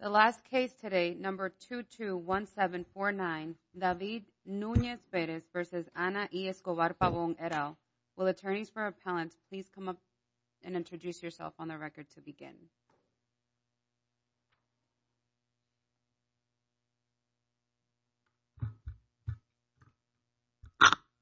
The last case today, number 221749, David Nunez Perez v. Ana E. Escobar Pabon et al. Will attorneys for appellant please come up and introduce yourself on the record to begin?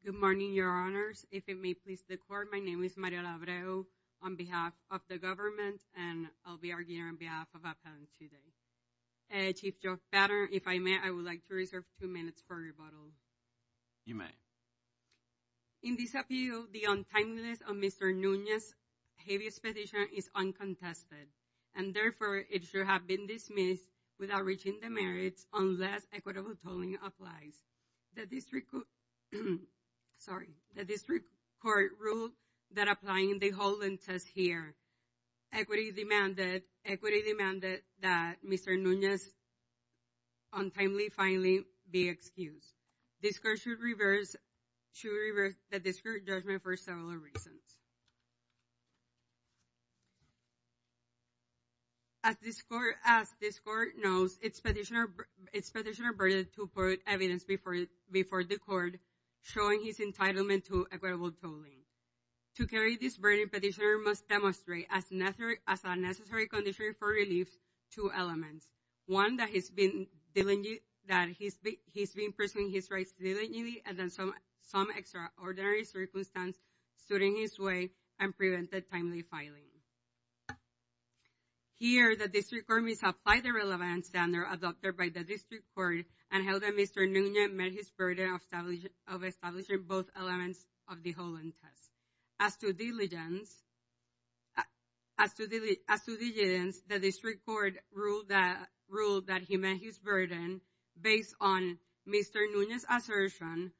Good morning, your honors. If it may please the court, my name is Mariela Abreu on behalf of the government and I'll be arguing on behalf of appellant today. Chief Judge Pattern, if I may, I would like to reserve two minutes for rebuttal. You may. In this appeal, the untimeliness of Mr. Nunez's heaviest petition is uncontested and therefore it should have been dismissed without reaching the merits unless equitable tolling applies. The district court ruled that applying the holland test here, equity demanded that Mr. Nunez's untimely filing be excused. This court should reverse the district judgment for several reasons. As this court knows, it's petitioner's burden to put evidence before the court showing his entitlement to equitable tolling. To carry this burden, petitioner must demonstrate as a necessary condition for relief two elements. One, that he's been presuming his rights diligently and then some extraordinary circumstance stood in his way and prevented timely filing. Here the district court must apply the relevant standard adopted by the district court and held that Mr. Nunez met his burden of establishing both elements of the holland test. As to diligence, the district court ruled that he met his burden based on Mr. Nunez's assertion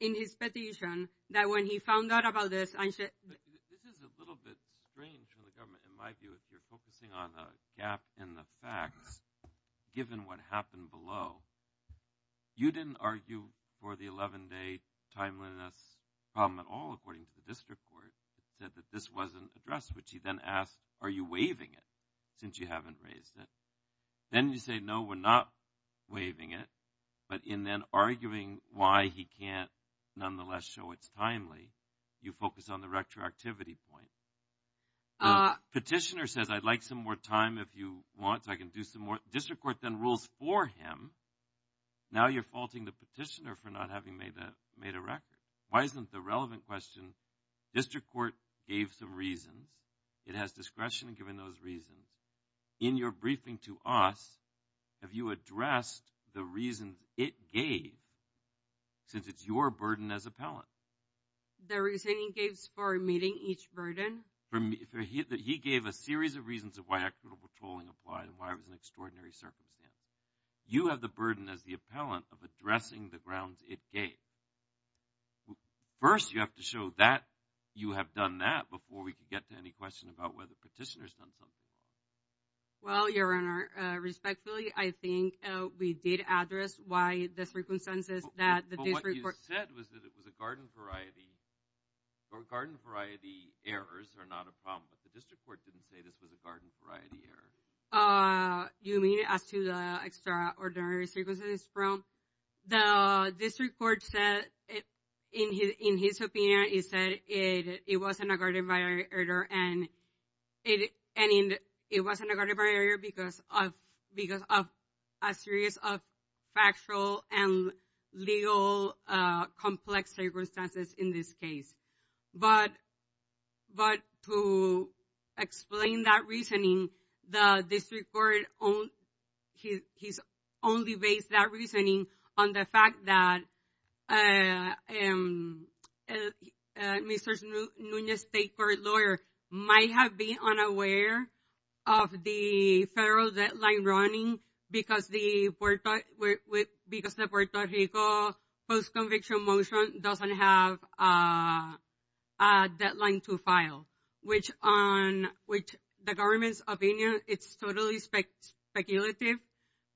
in his petition that when he found out about this, I should... This is a little bit strange from the government in my view if you're focusing on a gap in the facts given what happened below. You didn't argue for the 11-day timeliness problem at all according to the district court said that this wasn't addressed which he then asked are you waiving it since you haven't raised it then you say no we're not waiving it but in then arguing why he can't nonetheless show it's timely you focus on the retroactivity point the petitioner says I'd like some more time if you want so I can do some more district court then rules for him now you're faulting the petitioner for not having made that made a record why isn't the relevant question district court gave some reasons it has discretion given those reasons in your briefing to us have you addressed the reasons it gave since it's your burden as appellant. The reasoning he gave for meeting each burden. He gave a series of reasons of why equitable patrolling applied and why it was an extraordinary circumstance you have the burden as the appellant of addressing the grounds it gave first you have to show that you have done that before we could get to any question about whether petitioners done something well your honor respectfully I think we did address why the circumstances that the district said was that it was a garden variety or garden variety errors are not a problem but the district court didn't say this was a garden variety error uh you mean as to the extraordinary circumstances from the district court said it in his in his opinion he said it it wasn't a garden barrier and it and it wasn't a garden barrier because of because of a series of factual and legal uh complex circumstances in this case but but to explain that reasoning the district court own he he's only based that reasoning on the fact that uh um mrs nunez state court lawyer might have been unaware of the federal deadline running because the because the puerto rico post-conviction motion doesn't have a a deadline to file which on which the government's opinion it's totally speculative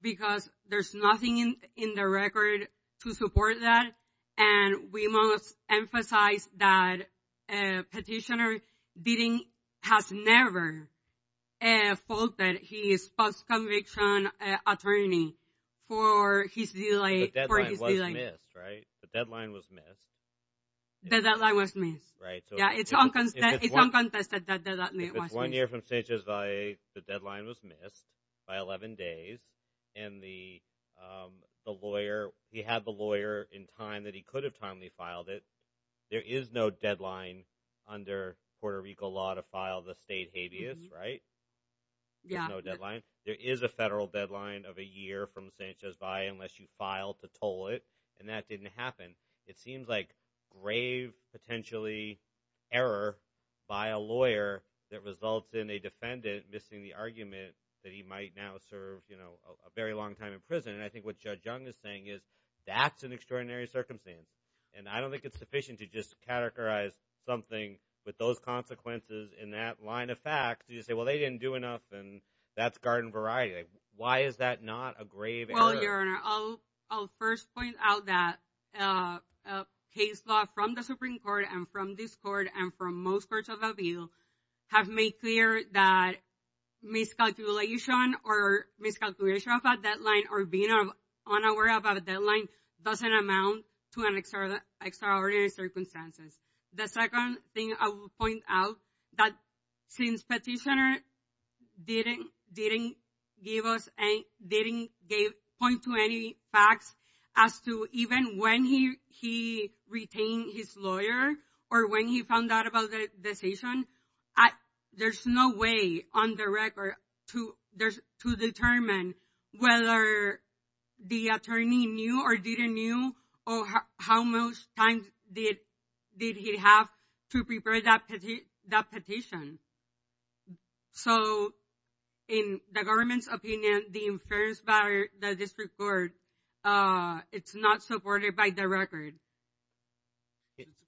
because there's nothing in in the record to support that and we must emphasize that a petitioner has never a fault that he is post-conviction attorney for his delay right the deadline was missed the deadline was missed right so yeah it's unconstant it's uncontested that that was one year from stages by the deadline was missed by 11 days and the um the lawyer he had the lawyer in time that he could have timely filed it there is no deadline under puerto rico law to file the state habeas right yeah no deadline there is a federal deadline of a year from sanchez by unless you file to toll it and that didn't happen it seems like grave potentially error by a lawyer that results in a defendant missing the argument that he might now serve you know a very long time in prison and i think what judge young is saying is that's an extraordinary circumstance and i don't think it's sufficient to just categorize something with those consequences in that line of facts you say well they didn't do enough and that's garden variety why is that not a grave well your honor i'll i'll first point out that uh case law from the supreme court and from this court and from most courts of appeal have made clear that miscalculation or miscalculation of a deadline or being unaware about a deadline doesn't amount to an extraordinary extraordinary circumstances the second thing i will point out that since petitioner didn't didn't give us a didn't gave point to any facts as to even when he he retained his lawyer or when he found out about the decision there's no way on the record to there's to determine whether the attorney knew or didn't knew or how much time did did he have to prepare that petition so in the government's opinion the inference by the district court uh it's not supported by the record let's see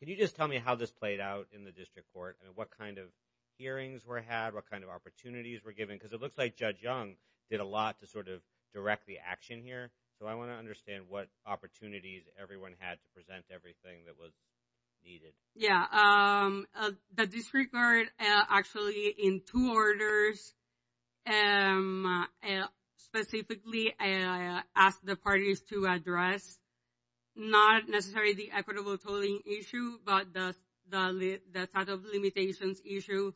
can you just tell me how this played out in the district court and what kind of hearings were had what kind of opportunities were given because it looks like judge young did a lot to sort of direct the action here so i want to understand what opportunities everyone had to present everything that was needed yeah um the district guard actually in two orders um specifically uh asked the parties to address not necessarily the equitable tolling issue but the the the type of limitations issue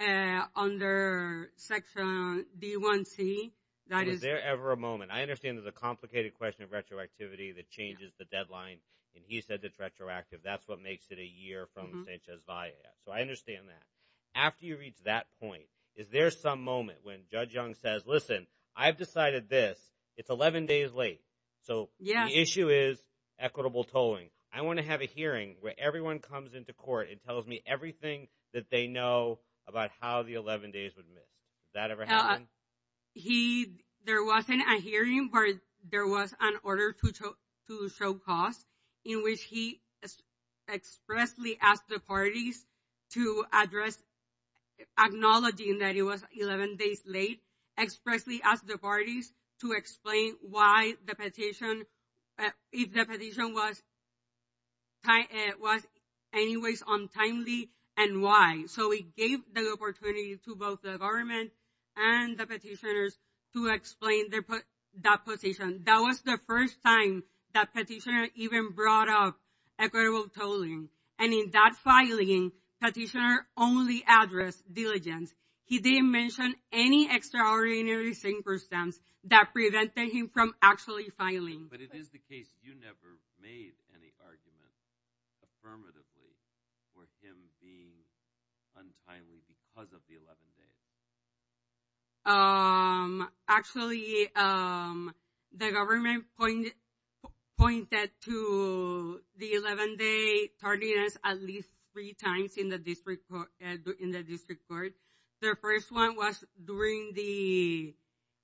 uh under section d1c that is there ever a moment i understand there's a complicated question of retroactivity that changes the deadline and he said that's retroactive that's what makes it a year from sanchez via so i understand that after you reach that point is there some moment when judge young says listen i've decided this it's 11 days late so the issue is equitable tolling i want to have a hearing where everyone comes into court and tells me everything that they know about how the 11 days would miss that ever happen he there wasn't a hearing but there was an order to to show cost in which he expressly asked the parties to address acknowledging that it was 11 days late expressly asked the parties to explain why the petition if the petition was tight it was anyways untimely and why so we gave the opportunity to both the government and the petitioners to explain their put that position that was the first time that petitioner even brought up equitable tolling and in that filing petitioner only addressed diligence he didn't mention any extraordinary synchro stems that prevented him from actually filing but it is the case you never made any argument affirmatively for him being untimely because of the 11 days um actually um the government point pointed to the 11 day tardiness at least three times in the district in the district court their first one was during the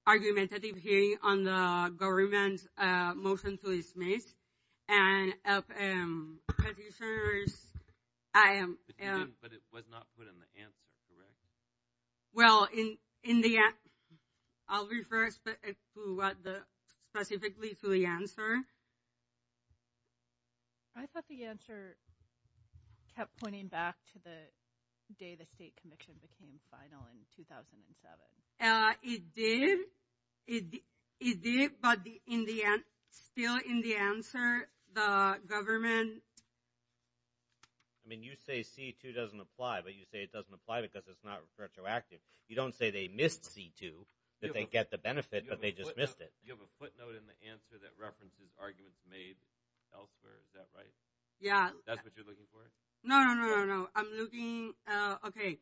argumentative hearing on the government uh motion to dismiss and petitioners i am but it was not put in the answer correct well in in the end i'll refer to what the specifically to the answer i thought the answer kept pointing back to the day the state conviction became final in 2007 uh it did it it did but the in the end still in the answer the government i mean you say c2 doesn't apply but you say it doesn't apply because it's not retroactive you don't say they missed c2 that they get the benefit but they just missed it you have a footnote in the answer that references arguments made elsewhere is that right yeah that's what you're looking for no no no i'm looking uh okay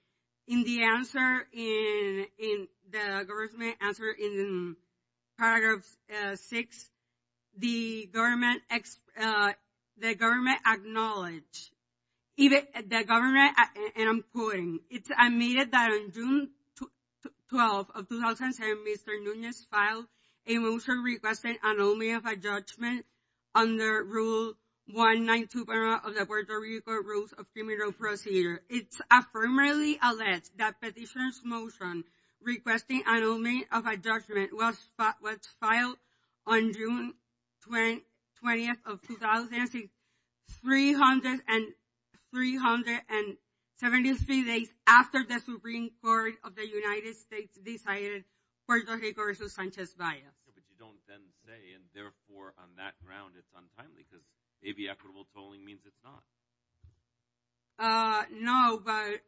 in the answer in in the government answer in paragraphs uh six the government x uh the government acknowledged even the government and i'm quoting it's admitted that on june 12 of 2007 mr nunez filed a motion requesting an omen of a judgment under rule 192 of the puerto rico rules of criminal procedure it's affirmatively alleged that petitioner's motion requesting an omen of a 300 and 373 days after the supreme court of the united states decided puerto rico versus sanchez bias but you don't then say and therefore on that ground it's untimely because maybe equitable tolling means it's not uh no but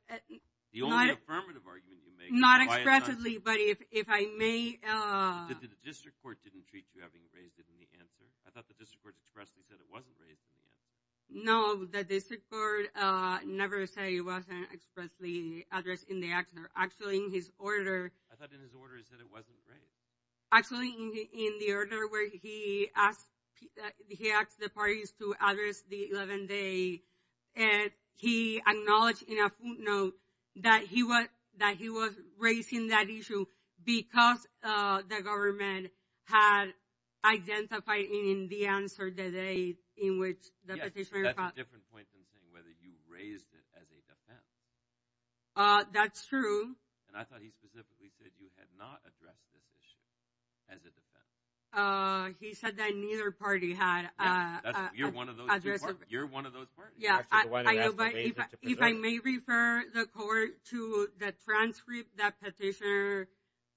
the only affirmative argument you make not expressively but if if i may uh the district court didn't treat you having raised it answer i thought the district court expressly said it wasn't raised in the end no the district court uh never say it wasn't expressly addressed in the action or actually in his order i thought in his orders that it wasn't great actually in the order where he asked that he asked the parties to address the 11th day and he acknowledged in a footnote that he was that he was raising that because uh the government had identified in the answer that they in which the petitioner that's a different point than saying whether you raised it as a defense uh that's true and i thought he specifically said you had not addressed this issue as a defense uh he said that neither party had uh you're one of those you're one of those parties yeah if i may refer the court to the transcript that petitioner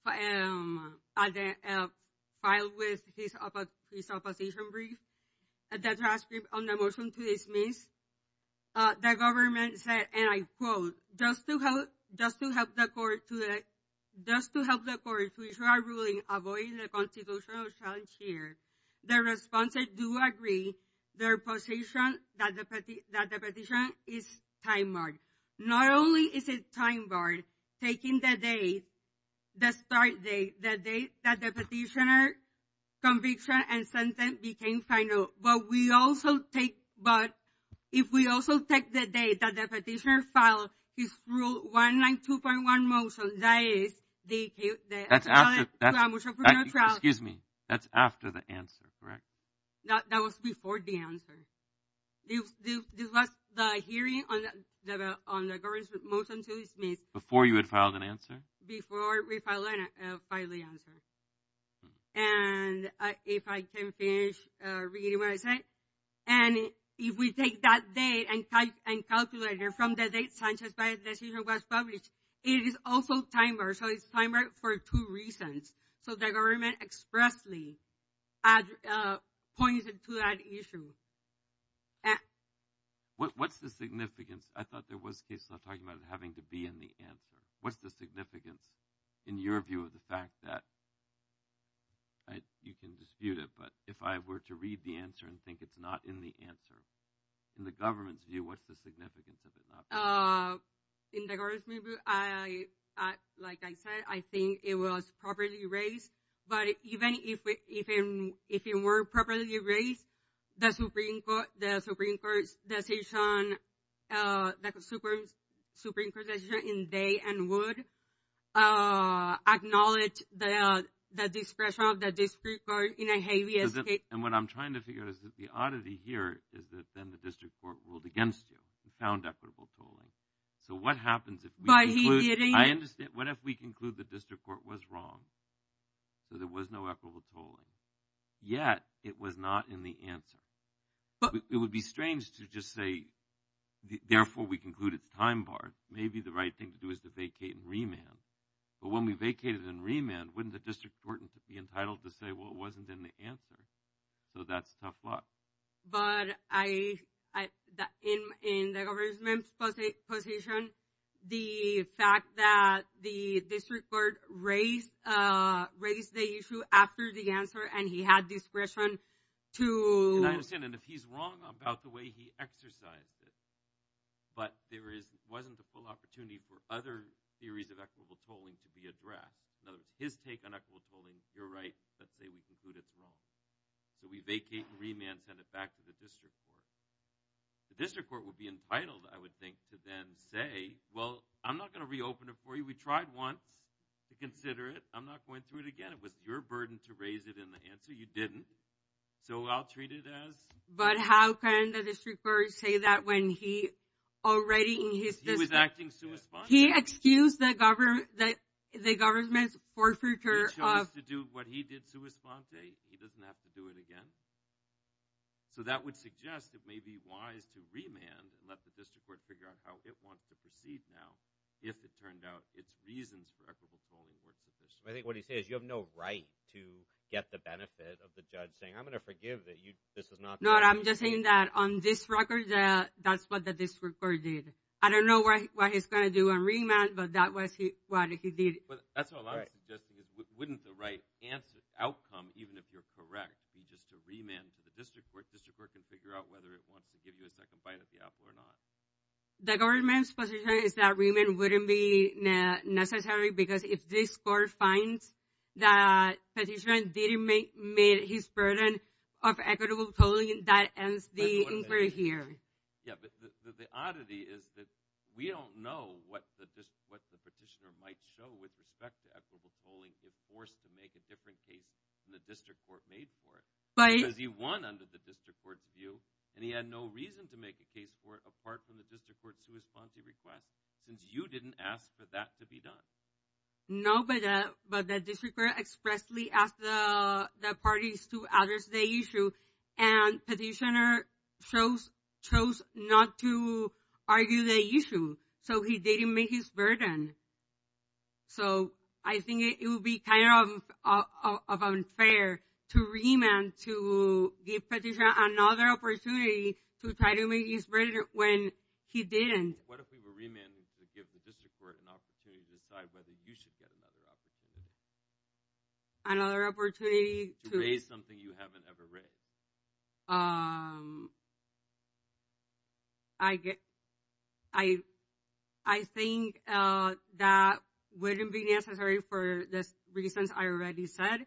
um filed with his about his opposition brief at the transcript on the motion to dismiss uh the government said and i quote just to help just to help the court to just to help the court to issue a ruling avoiding the constitutional challenge the response i do agree their position that the petition is time marked not only is it time barred taking the day the start day the day that the petitioner conviction and sentence became final but we also take but if we also take the day that the petitioner filed his rule 192.1 motion that is the excuse me that's after the answer correct that that was before the answer this was the hearing on the on the government motion to dismiss before you had filed an answer before we finally finally answer and if i can finish uh reading what i said and if we take that day and type and calculator from the date sanchez by decision was published it is also time bar so it's time right for two reasons so the government expressly uh pointed to that issue what what's the significance i thought there was cases of talking about having to be in the answer what's the significance in your view of the fact that i you can dispute it but if i were to read the answer and think it's not in the answer in the government's view what's the significance of it uh in the government i i like i said i think it was properly raised but even if we even if it were properly erased the supreme court the supreme court's decision uh that was super supreme protection in day and would uh acknowledge the the discretion of the district court in a heavy escape and what i'm trying to figure out is that the oddity here is that then the district court ruled against you and found equitable tolling so what happens if i understand what if we conclude the district court was wrong so there was no equitable tolling yet it was not in the answer but it would be strange to just say therefore we conclude it's time bar maybe the right thing to do is to vacate and remand but when we vacated and remand wouldn't the district court be entitled to say well it wasn't in the answer so that's tough luck but i i that in in the government's position the fact that the district court raised uh raised the issue after the answer and he had discretion to and i understand and if he's wrong about the way he exercised it but there is wasn't the full opportunity for other theories of equitable tolling to be addressed in his take on equitable tolling you're right let's say we conclude it's wrong so we vacate and remand send it back to the district court the district court would be entitled i would think to then say well i'm not going to reopen it for you we tried once to consider it i'm not going through it again it was your burden to raise it in the answer you didn't so i'll treat it as but how can the district court say that when he already in his he was acting so he excused the government that the government's forfeiture of to do what he did sui sponte he doesn't have to do it again so that would suggest it may be wise to remand and let the district court figure out how it wants to proceed now if it turned out its reasons for equitable polling works i think what he says you have no right to get the benefit of the judge saying i'm going to forgive that you this is not not i'm just saying that on this record uh that's what the district court did i don't know what he's going to do on remand but that was he what he did that's what i'm suggesting is wouldn't the right answer outcome even if you're correct be just to remand to the district court district court can figure out whether it wants to give you a second bite at the apple or not the government's position is that remand wouldn't be necessary because if this court finds that petition didn't make made his burden of equitable polling that ends the inquiry here yeah but the oddity is that we don't know what the what the petitioner might show with respect to equitable polling if forced to make a different case than the district court made for it but he won under the district court's view and he had no reason to make a case for it apart from the district court sui sponte request since you didn't ask for that to be done no but uh but the district expressly asked the the parties to address the issue and petitioner chose chose not to argue the issue so he didn't make his burden so i think it would be kind of of unfair to remand to give petitioner another opportunity to try to make his burden when he didn't what if we were another opportunity to raise something you haven't ever raised um i get i i think uh that wouldn't be necessary for the reasons i already said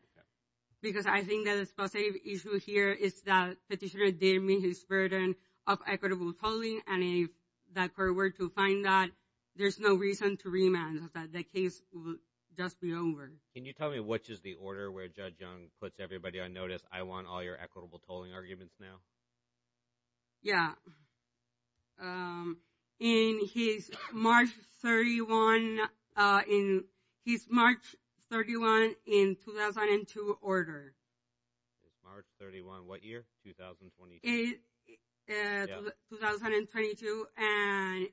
because i think that is positive issue here is that petitioner didn't mean his burden of equitable polling and if that court were to find that there's no reason to remand that the just be over can you tell me which is the order where judge young puts everybody on notice i want all your equitable tolling arguments now yeah um and he's march 31 uh in he's march 31 in 2002 order it's march 31 what year 2022 and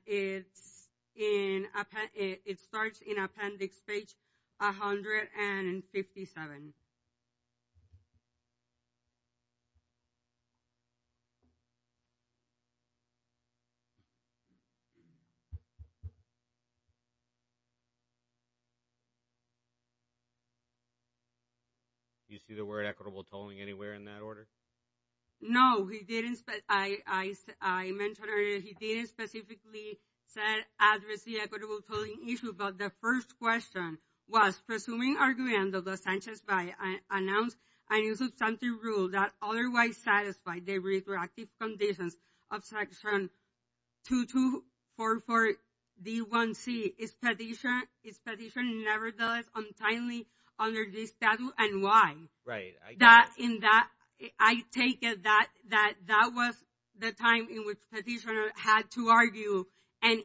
it's in a it starts in appendix page 157 you see the word equitable tolling anywhere in that order no he didn't but i i i mentioned he didn't specifically said address the equitable tolling issue but the first question was presuming argument of the sanctions by i announced a new substantive rule that otherwise satisfied the reproductive conditions of section 2244 d1c is petition is petition nevertheless untimely under this tattoo and why right that in that i take it that that that was the time in which petitioner had to argue and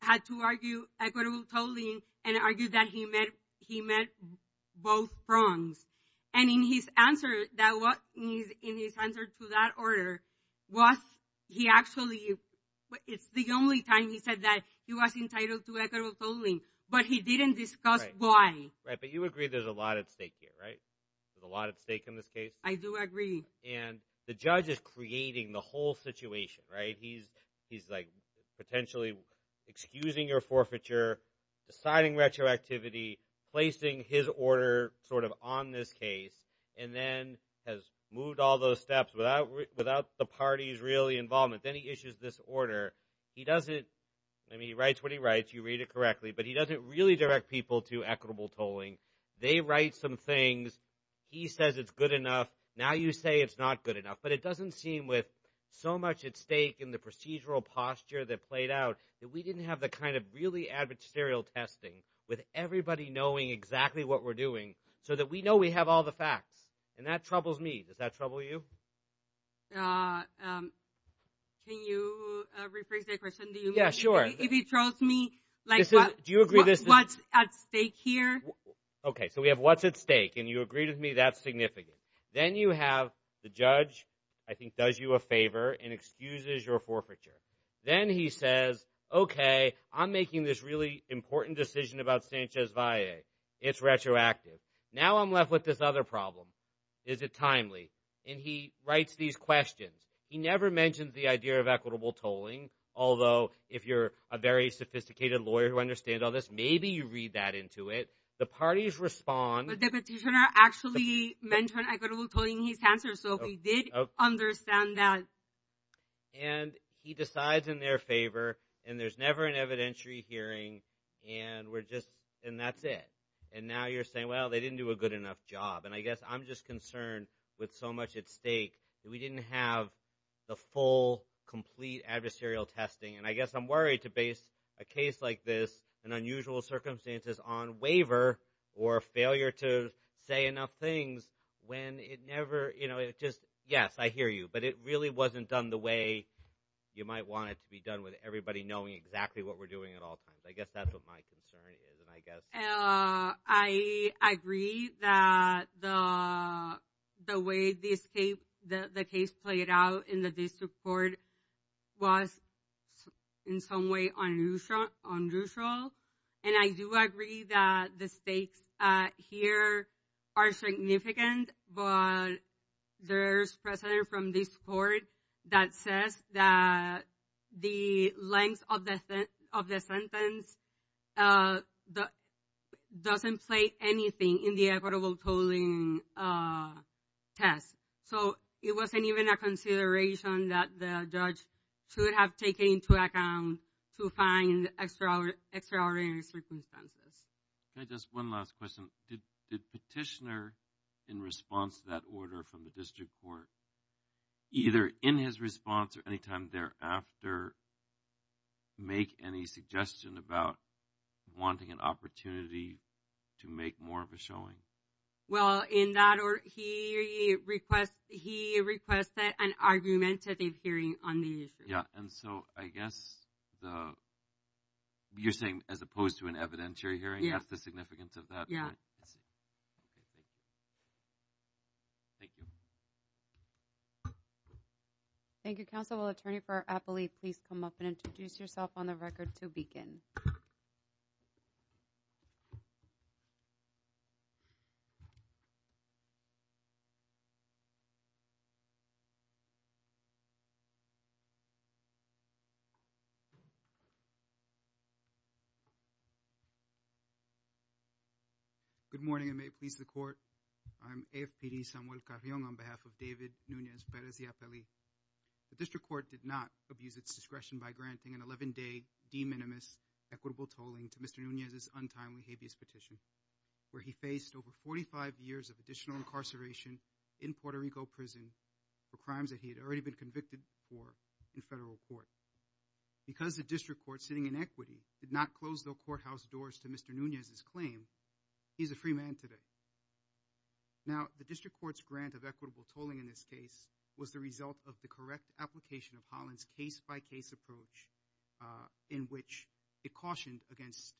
had to argue equitable tolling and argued that he met he met both prongs and in his answer that what is in his answer to that order was he actually it's the only time he said that he was entitled to equitable tolling but he didn't discuss why right but you agree there's a lot at stake here right there's a lot at stake in this case i do agree and the judge is creating the whole situation right he's he's like potentially excusing your forfeiture deciding retroactivity placing his order sort of on this case and then has moved all those steps without without the party's really involvement then he issues this order he doesn't i mean he writes what he writes you read it correctly but he doesn't really direct people to equitable tolling they write some things he says it's good enough now you say it's not good enough but it doesn't seem with so much at stake in the procedural posture that played out that we didn't have the kind of really adversarial testing with everybody knowing exactly what we're doing so that we know we have all the facts and that troubles me does that trouble you uh um can you uh rephrase that question do you yeah sure if he throws me like do you agree this what's at stake here okay so we have what's at stake and you agree with me that's significant then you have the judge i think does you a favor and excuses your forfeiture then he says okay i'm making this really important decision about sanchez valle it's retroactive now i'm left with this other problem is it timely and he writes these questions he never mentions the idea of equitable tolling although if you're a very sophisticated lawyer who understand all this maybe you read that into it the parties respond but the petitioner actually mentioned equitable tolling his answer so he did understand that and he decides in their favor and there's never an evidentiary hearing and we're just and that's it and now you're saying well they didn't do a good enough job and i guess i'm just concerned with so much at stake that we didn't have the full complete adversarial testing and i guess i'm worried to base a case like this an unusual circumstances on waiver or failure to say enough things when it never you know it just yes i hear you but it really wasn't done the way you might want it to be done with everybody knowing exactly what we're doing at all times i guess that's what my concern is and i guess uh i agree that the the way this case the the case played out in the district court was in some way unusual unusual and i do agree that the stakes uh here are significant but there's precedent from this court that says that the length of the of the sentence uh that doesn't play anything in the equitable tolling uh test so it wasn't even a consideration that the judge should have taken into account to find extra extraordinary circumstances okay just one last question did the petitioner in response to that order from the district court either in his response or anytime thereafter make any suggestion about wanting an opportunity to make more of a showing well in that order he requests he requests that an argumentative hearing on the issue yeah and so i guess the you're saying as opposed to an evidentiary hearing that's the significance of yeah okay thank you thank you thank you counsel will attorney for appellee please come up and introduce yourself on the record to begin good morning i may please the court i'm afpd samuel carrion on behalf of david nunez perez the appellee the district court did not abuse its discretion by granting an 11-day de minimis equitable tolling to mr nunez's untimely habeas petition where he faced over 45 years of additional incarceration in puerto rico prison for crimes that he had already been convicted for in federal court because the district court sitting in equity did not close the courthouse doors to mr nunez's claim he's a free man today now the district court's grant of equitable tolling in this case was the result of the correct application of holland's case-by-case approach in which it cautioned against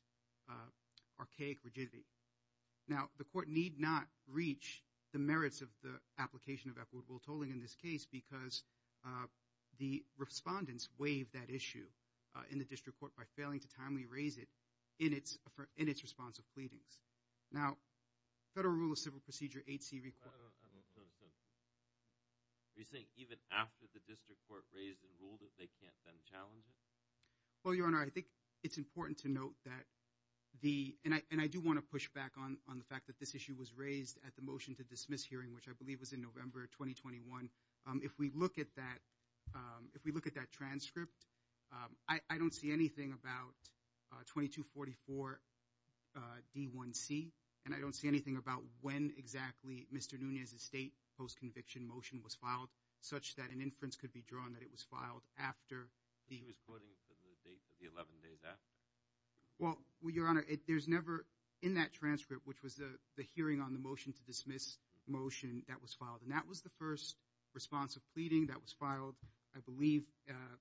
archaic rigidity now the court need not reach the merits of the application of equitable tolling in this case because the respondents waived that issue in the district court by failing to timely raise it in its in its response of pleadings now federal rule of civil procedure 8c record are you saying even after the district court raised the rule that they can't then challenge it well your honor i think it's important to note that the and i and i do want to push back on on the fact that this issue was raised at the motion to dismiss hearing which i believe was in november 2021 if we look at that if we look at that transcript i i don't see anything about 2244 d1c and i don't see anything about when exactly mr nunez's state post-conviction motion was filed such that an inference could be drawn that it was filed after he was putting the date for the 11th day that well your honor it there's never in that transcript which was a the hearing on the motion to dismiss motion that was filed and that was the first response of pleading that was filed i believe uh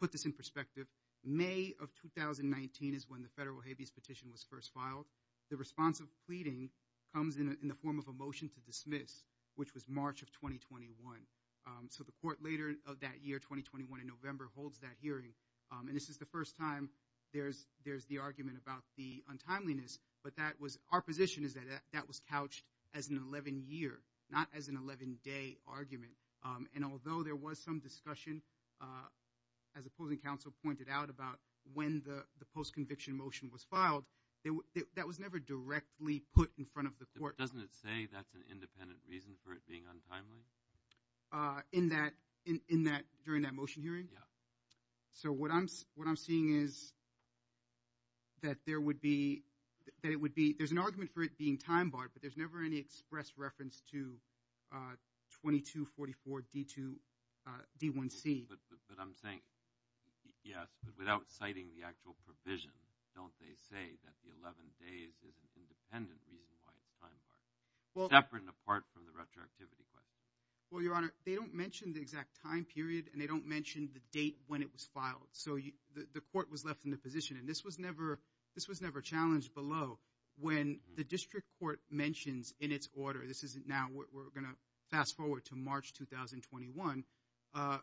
put this in perspective may of 2019 is when the federal habeas petition was first filed the response of pleading comes in in the form of a motion to dismiss which was march of 2021 so the court later of that year 2021 in november holds that hearing and this is the first time there's there's the argument about the untimeliness but that was our position is that that was couched as an 11 year not as an 11 day argument um and although there was some discussion uh as opposing counsel pointed out about when the the post conviction motion was filed that was never directly put in front of the court doesn't it say that's an independent reason for it being untimely uh in that in in that during that motion hearing so what i'm what i'm seeing is that there would be that it would be there's an argument for it being time barred but there's never any express reference to uh 22 44 d2 uh d1c but i'm saying yes but without citing the actual provision don't they say that the 11 days is an independent reason why it's time apart from the retroactivity question well your honor they don't mention the time period and they don't mention the date when it was filed so the court was left in the position and this was never this was never challenged below when the district court mentions in its order this is now we're going to fast forward to march 2021 uh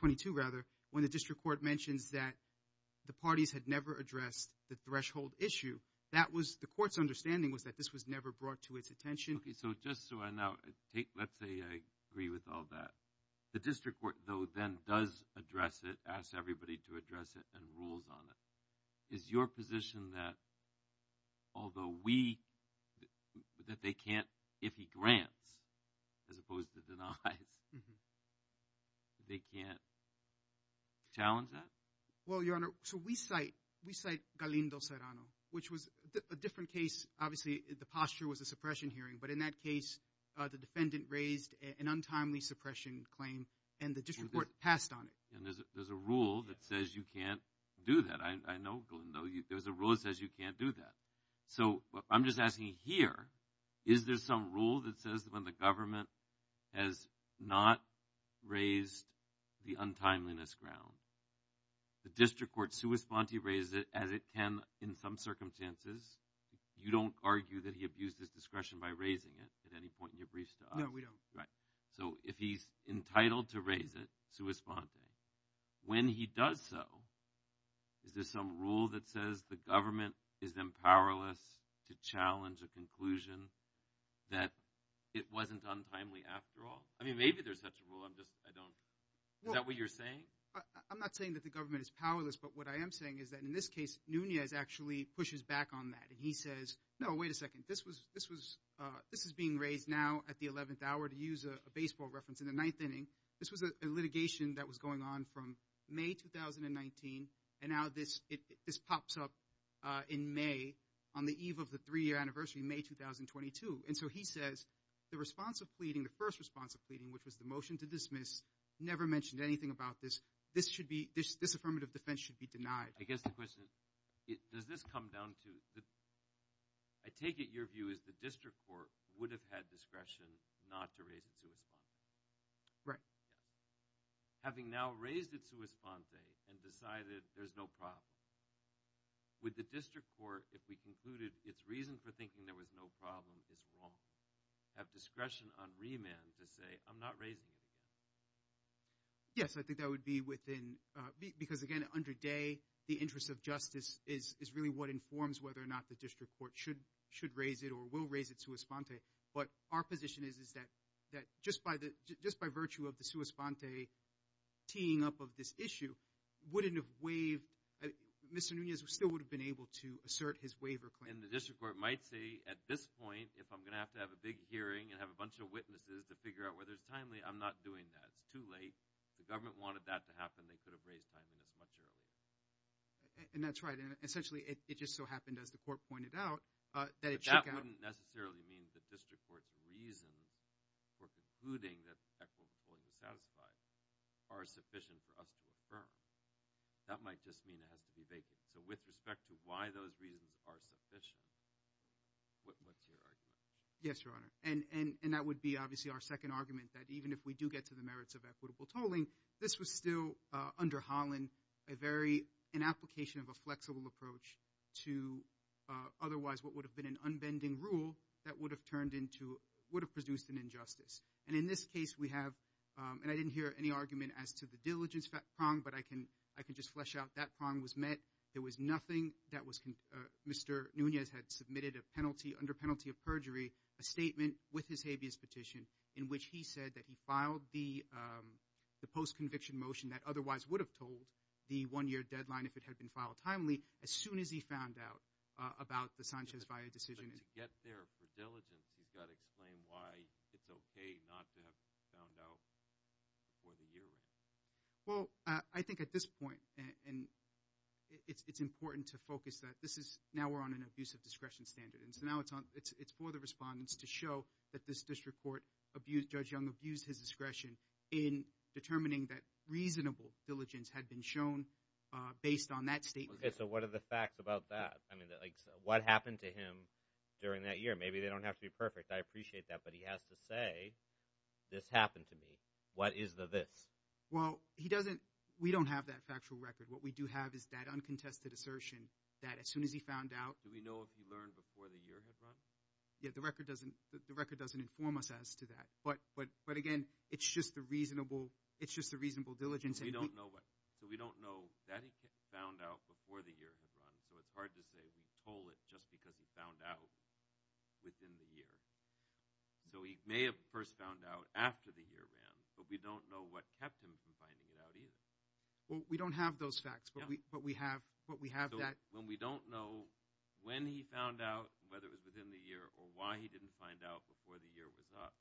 22 rather when the district court mentions that the parties had never addressed the threshold issue that was the court's understanding was that this was never brought to its attention okay so just so i know take let's say i agree with all that the district court though then does address it asks everybody to address it and rules on it is your position that although we that they can't if he grants as opposed to denies they can't challenge that well your honor so we cite we cite galindo serrano which was a different case obviously the posture was a suppression hearing but in that case uh the defendant raised an untimely suppression claim and the district court passed on it and there's a there's a rule that says you can't do that i i know glendale there's a rule that says you can't do that so i'm just asking here is there some rule that says when the government has not raised the untimeliness ground the district court sua sponte raised it as it can in some circumstances you don't argue that he abused his discretion by raising it at any point in your brief stuff no we don't right so if he's entitled to raise it sua sponte when he does so is there some rule that says the government is then powerless to challenge a conclusion that it wasn't untimely after all i mean maybe there's such a rule i'm just i don't is that what you're saying i'm not saying that the government is powerless but what i am saying is that in this case nuñez actually pushes back on that and he says no wait a second this was this was uh this is being raised now at the 11th hour to use a baseball reference in the ninth inning this was a litigation that was going on from may 2019 and now this it this pops up uh in may on the eve of the three-year anniversary may 2022 and so he says the response of pleading the first response of pleading which was the motion to dismiss never mentioned anything about this this should be this this affirmative defense should be denied i guess the question does this come down to the i take it your view is the district court would have had discretion not to raise it right having now raised it sua sponte and decided there's no problem with the district court if we concluded it's reason for thinking there was no problem this won't have discretion on remand to say i'm not raising yes i think that would be with uh because again under day the interest of justice is is really what informs whether or not the district court should should raise it or will raise it sua sponte but our position is is that that just by the just by virtue of the sua sponte teeing up of this issue wouldn't have waived mr nuñez still would have been able to assert his waiver claim and the district court might say at this point if i'm gonna have to have a big hearing and have a bunch of witnesses to figure out whether it's timely i'm not doing that it's too late the government wanted that to happen they could have raised time in as much earlier and that's right and essentially it just so happened as the court pointed out uh that it wouldn't necessarily mean the district court's reasons for concluding that equity court is satisfied are sufficient for us to affirm that might just mean it has to be vacant so with respect to why those reasons are sufficient what what's your argument yes your honor and and and that would be obviously our second argument that even if we do get to the merits of equitable tolling this was still uh under holland a very an application of a flexible approach to uh otherwise what would have been an unbending rule that would have turned into would have produced an injustice and in this case we have um and i didn't hear any argument as to the diligence prong but i can i can just flesh out that prong was met there was nothing that was mr nuñez had submitted a penalty under penalty of perjury a statement with his habeas petition in which he said that he filed the um the post-conviction motion that otherwise would have told the one-year deadline if it had been filed timely as soon as he found out about the sanchez via decision to get there for diligence you've got to explain why it's okay not to have found out for the year well i think at this point and it's it's important to focus that this is now we're on an abuse of discretion standard and so now it's on it's it's for the respondents to show that this district court abuse judge young abused his discretion in determining that reasonable diligence had been shown uh based on that statement okay so what are the facts about that i mean like what happened to him during that year maybe they don't have to be perfect i appreciate that but he has to say this happened to me what is the this well he doesn't we don't have that factual record what we do have is that uncontested assertion that as soon as he found out do we know if he learned before the year has run yeah the record doesn't the record doesn't inform us as to that but but but again it's just the reasonable it's just the reasonable diligence and we don't know what so we don't know that he found out before the year has run so it's hard to say he told it just because he found out within the year so he may have first found out after the year ran but we don't know what kept him from finding it out either well we don't have those facts but we but we have what we have that when we don't know when he found out whether it was within the year or why he didn't find out before the year was up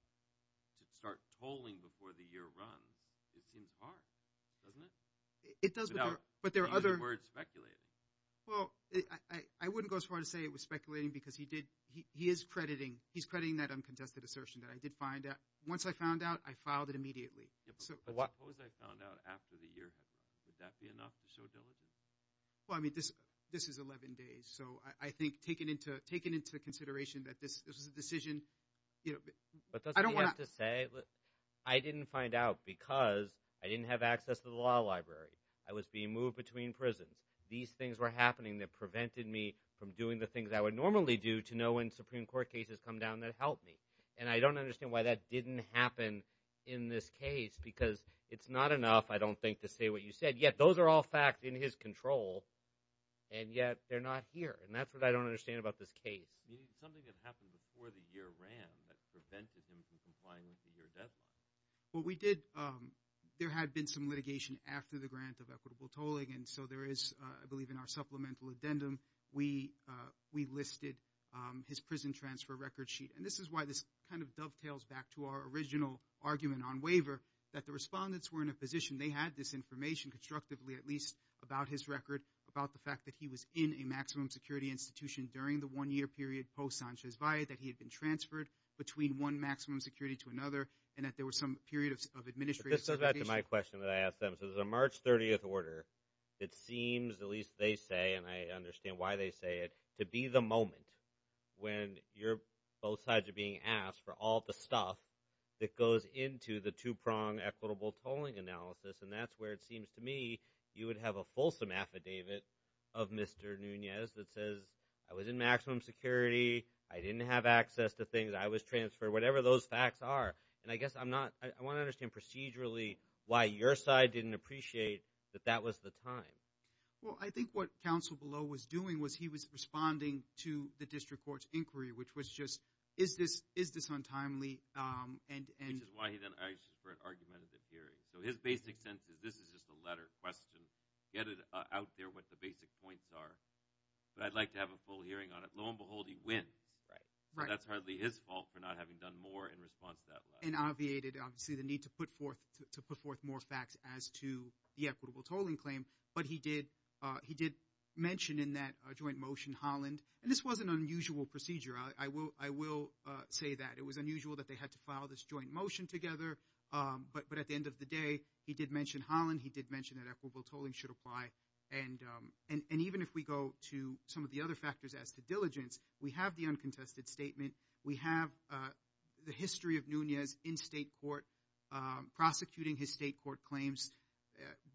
to start tolling before the year runs it seems hard doesn't it it does but there are other words speculating well i i wouldn't go as far to say it was speculating because he did he he is crediting he's crediting that uncontested assertion that i did find out once i found out i filed it immediately so what was i found out after the year did that be enough to show diligence well i mean this this is 11 days so i i think taking into taking into consideration that this this is a decision you know i don't want to say i didn't find out because i didn't have access to the law library i was being moved between prisons these things were happening that prevented me from doing the things i would normally do to know when supreme court cases come down that helped me and i don't understand why that didn't happen in this case because it's not enough i don't think to say what you said yet those are all facts in his control and yet they're not here and that's what i don't understand about this case you need something that happened before the year ran that prevented him from complying with the year deadline well we did um there had been some litigation after the grant of equitable tolling and so there is uh i believe in our supplemental addendum we uh we listed um prison transfer record sheet and this is why this kind of dovetails back to our original argument on waiver that the respondents were in a position they had this information constructively at least about his record about the fact that he was in a maximum security institution during the one year period post sanchez via that he had been transferred between one maximum security to another and that there was some period of administrative this goes back to my question that i asked them so it's a march 30th order it seems at least they say and i understand why they say it to be the moment when you're both sides are being asked for all the stuff that goes into the two-prong equitable tolling analysis and that's where it seems to me you would have a fulsome affidavit of mr nunez that says i was in maximum security i didn't have access to things i was transferred whatever those facts are and i guess i'm not i want to understand procedurally why your side didn't appreciate that that was the time well i think what council below was doing was he was responding to the district court's inquiry which was just is this is this untimely um and and this is why he then asked for an argumentative hearing so his basic sense is this is just a letter question get it out there what the basic points are but i'd like to have a full hearing on it lo and behold he wins right right that's hardly his fault for not having done more in response to that and obviated obviously the need to put forth to put forth more facts as to the equitable tolling claim but he did uh he did mention in that joint motion holland and this was an unusual procedure i will i will uh say that it was unusual that they had to file this joint motion together um but but at the end of the day he did mention holland he did mention that equitable tolling should apply and um and and even if we go to some of the other factors as to diligence we have the uncontested statement we have uh the history of nunez in state court um prosecuting his state court claims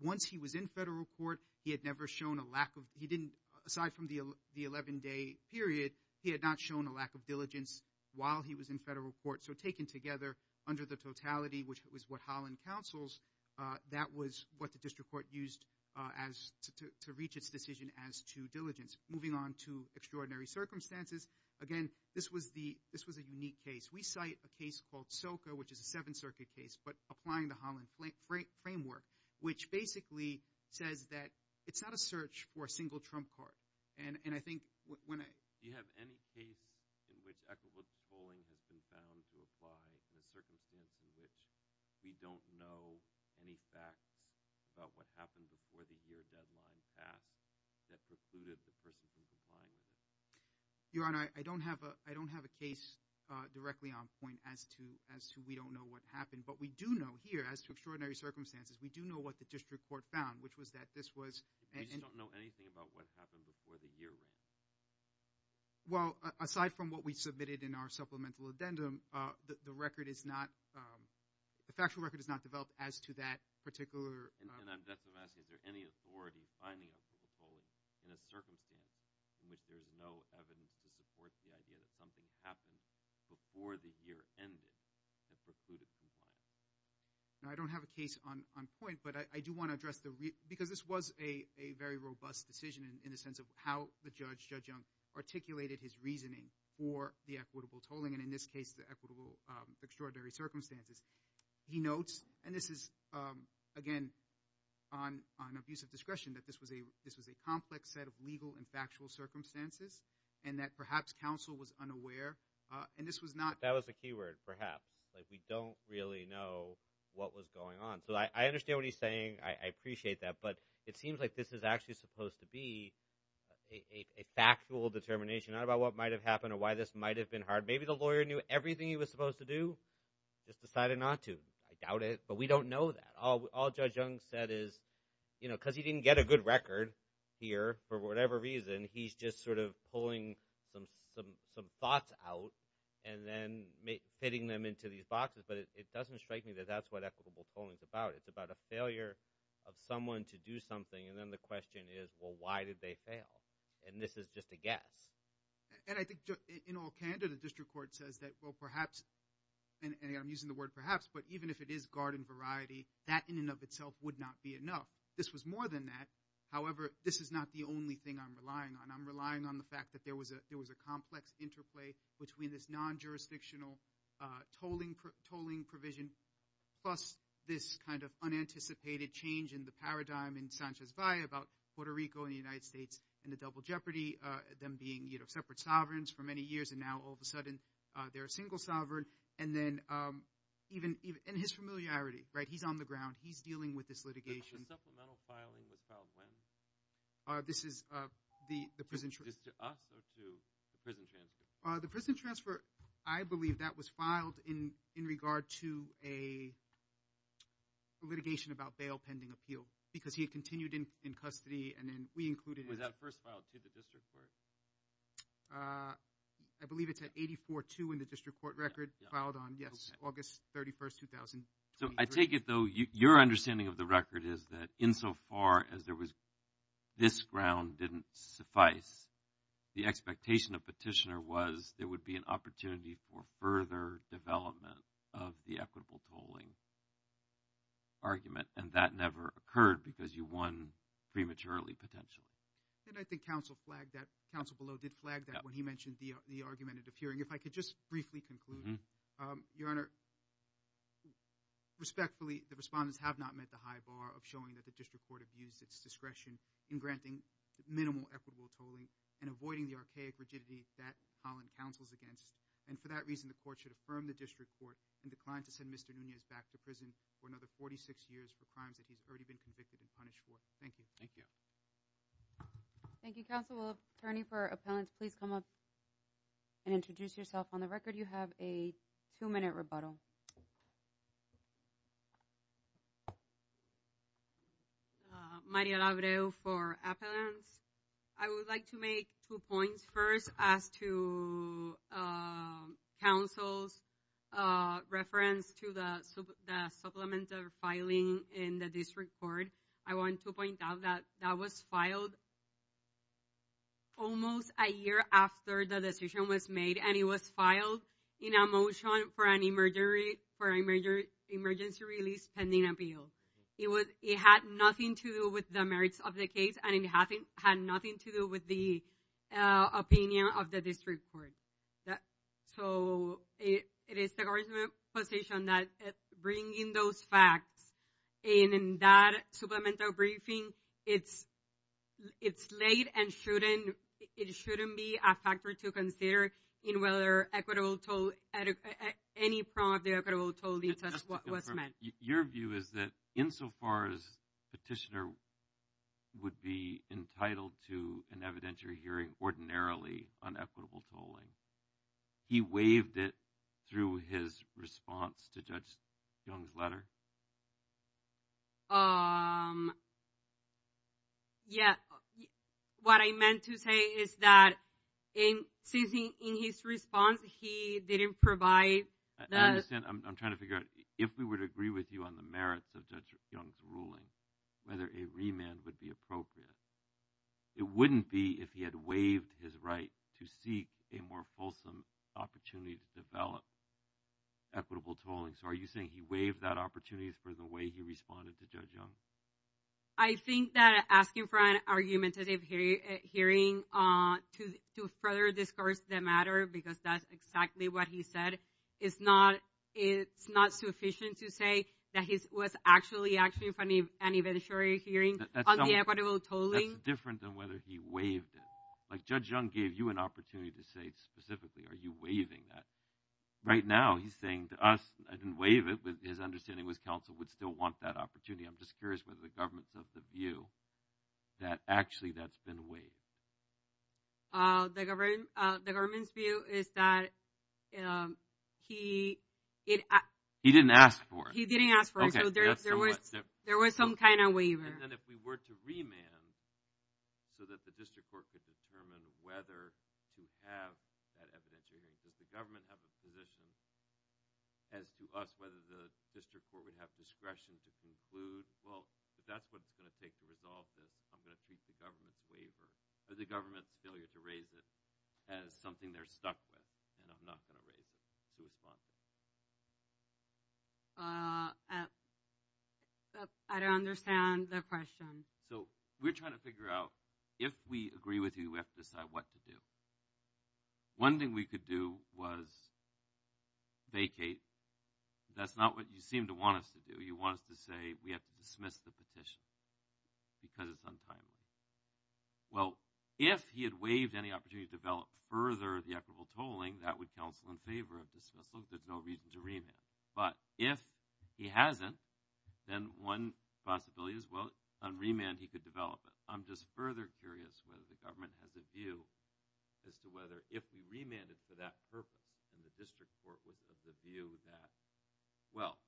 once he was in federal court he had never shown a lack of he didn't aside from the the 11 day period he had not shown a lack of diligence while he was in federal court so taken together under the totality which was what holland councils uh that was what the district court used uh as to to reach its decision as to diligence moving on to extraordinary circumstances again this was the this was a unique case we cite a case called soca which is a seven circuit case but applying the holland framework which basically says that it's not a search for a single trump card and and i think when i do you have any case in which equitable tolling has been found to apply in a circumstance in which we don't know any facts about what happened before the year deadline passed that precluded the person from applying your honor i don't have a i don't have a case uh directly on point as to as to we don't know what happened but we do know here as to extraordinary circumstances we do know what the district court found which was that this was we just don't know anything about what happened before the year ran well aside from what we submitted in our supplemental addendum uh the record is not um the factual record is not developed as to that particular and i'm just which there's no evidence to support the idea that something happened before the year ended now i don't have a case on on point but i do want to address the because this was a a very robust decision in the sense of how the judge judge young articulated his reasoning for the equitable tolling and in this case the equitable um extraordinary circumstances he notes and this is um again on on abuse of discretion that this was a this was a complex set of legal and factual circumstances and that perhaps counsel was unaware uh and this was not that was a keyword perhaps like we don't really know what was going on so i i understand what he's saying i appreciate that but it seems like this is actually supposed to be a a factual determination not about what might have happened or why this might have been hard maybe the lawyer knew everything he was supposed to do just decided not to i doubt it but we don't know that all all didn't get a good record here for whatever reason he's just sort of pulling some some some thoughts out and then fitting them into these boxes but it doesn't strike me that that's what equitable polling is about it's about a failure of someone to do something and then the question is well why did they fail and this is just a guess and i think in all candor the district court says that well perhaps and i'm using the word perhaps but even if it is garden variety that in and of itself would not be enough this was more than that however this is not the only thing i'm relying on i'm relying on the fact that there was a there was a complex interplay between this non-jurisdictional uh tolling tolling provision plus this kind of unanticipated change in the paradigm in Sanchez Valle about Puerto Rico and the United States and the double jeopardy uh them being you know separate sovereigns for many years and now all of a sudden uh they're a single sovereign and then um even even in his familiarity right he's on the ground he's dealing with this litigation the supplemental filing was filed when uh this is uh the the prison just to us or to the prison transfer uh the prison transfer i believe that was filed in in regard to a litigation about bail pending appeal because he had continued in in custody and then we included was that first filed to the district court uh i believe it's at 84-2 in the district court record filed on yes august 31st 2000 so i take it though your understanding of the record is that insofar as there was this ground didn't suffice the expectation of petitioner was there would be an opportunity for further development of the equitable tolling argument and that never occurred because you won prematurely potentially and i think council flagged that council below did flag when he mentioned the the argument of appearing if i could just briefly conclude um your honor respectfully the respondents have not met the high bar of showing that the district court abused its discretion in granting minimal equitable tolling and avoiding the archaic rigidity that holland counsels against and for that reason the court should affirm the district court and decline to send mr nunez back to prison for another 46 years for crimes that he's already been convicted and punished for thank you thank you thank you counsel will attorney for appellants please come up and introduce yourself on the record you have a two-minute rebuttal maria labreo for appellants i would like to make two points first as to uh councils uh reference to the the supplement of filing in the district court i want to point that that was filed almost a year after the decision was made and it was filed in a motion for an emergency for a major emergency release pending appeal it was it had nothing to do with the merits of the case and it had nothing to do with the opinion of the district court that so it it is the government position that bringing those facts and in that supplemental briefing it's it's late and shouldn't it shouldn't be a factor to consider in whether equitable toll any problem of the equitable toll details what was meant your view is that insofar as petitioner would be entitled to an evidentiary hearing ordinarily on equitable tolling he waived it through his response to judge young's letter um yeah what i meant to say is that in since he in his response he didn't provide i understand i'm trying to figure out if we would agree with you on the merits of judge young's ruling whether a remand would be appropriate it wouldn't be if he had waived his right to seek a more fulsome opportunity to develop equitable tolling so are you saying he waived that opportunities for the way he responded to judge young i think that asking for an argumentative hearing uh to to further discuss the matter because that's exactly what he said it's not it's not sufficient to say that his was actually actually funny and eventually hearing different than whether he waived it like judge young gave you an opportunity to say specifically are you waiving that right now he's saying to us i didn't waive it with his understanding was council would still want that opportunity i'm just curious whether the government's of the view that actually that's been waived uh the government uh the government's is that um he it he didn't ask for it he didn't ask for it so there was there was some kind of waiver and then if we were to remand so that the district court could determine whether to have that evidentiary because the government have a position as to us whether the district court would have discretion to conclude well that's what's going to take the result that i'm going raise it as something they're stuck with and i'm not going to raise it to respond uh i don't understand the question so we're trying to figure out if we agree with you we have to decide what to do one thing we could do was vacate that's not what you seem to want us to do you want us to say we have to dismiss the petition because it's untimely well if he had waived any opportunity to develop further the equitable tolling that would counsel in favor of dismissal there's no reason to remand but if he hasn't then one possibility is well on remand he could develop it i'm just further curious whether the government has a view as to whether if we remanded for that purpose and the district court was of the view that well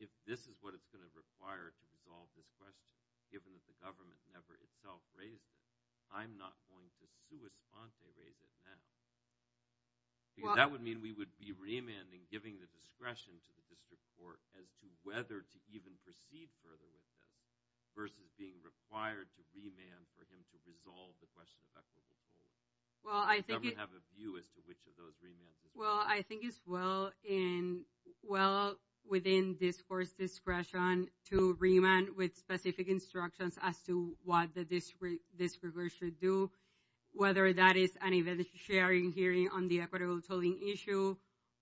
if this is what it's going to require to resolve this question given that the government never itself raised it i'm not going to sui sponte raise it now because that would mean we would be remanding giving the discretion to the district court as to whether to even proceed further with them versus being required to remand for him to resolve the question effectively well i think you have a view as to which of those remands well i think it's well in well within this course discretion to remand with specific instructions as to what the district this river should do whether that is an event sharing hearing on the equitable tolling issue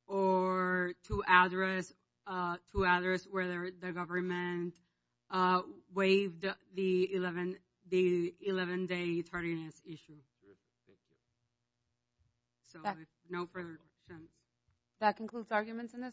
or to address uh to address whether the government uh waived the 11 the 11 day tardiness issue so no further that concludes arguments in this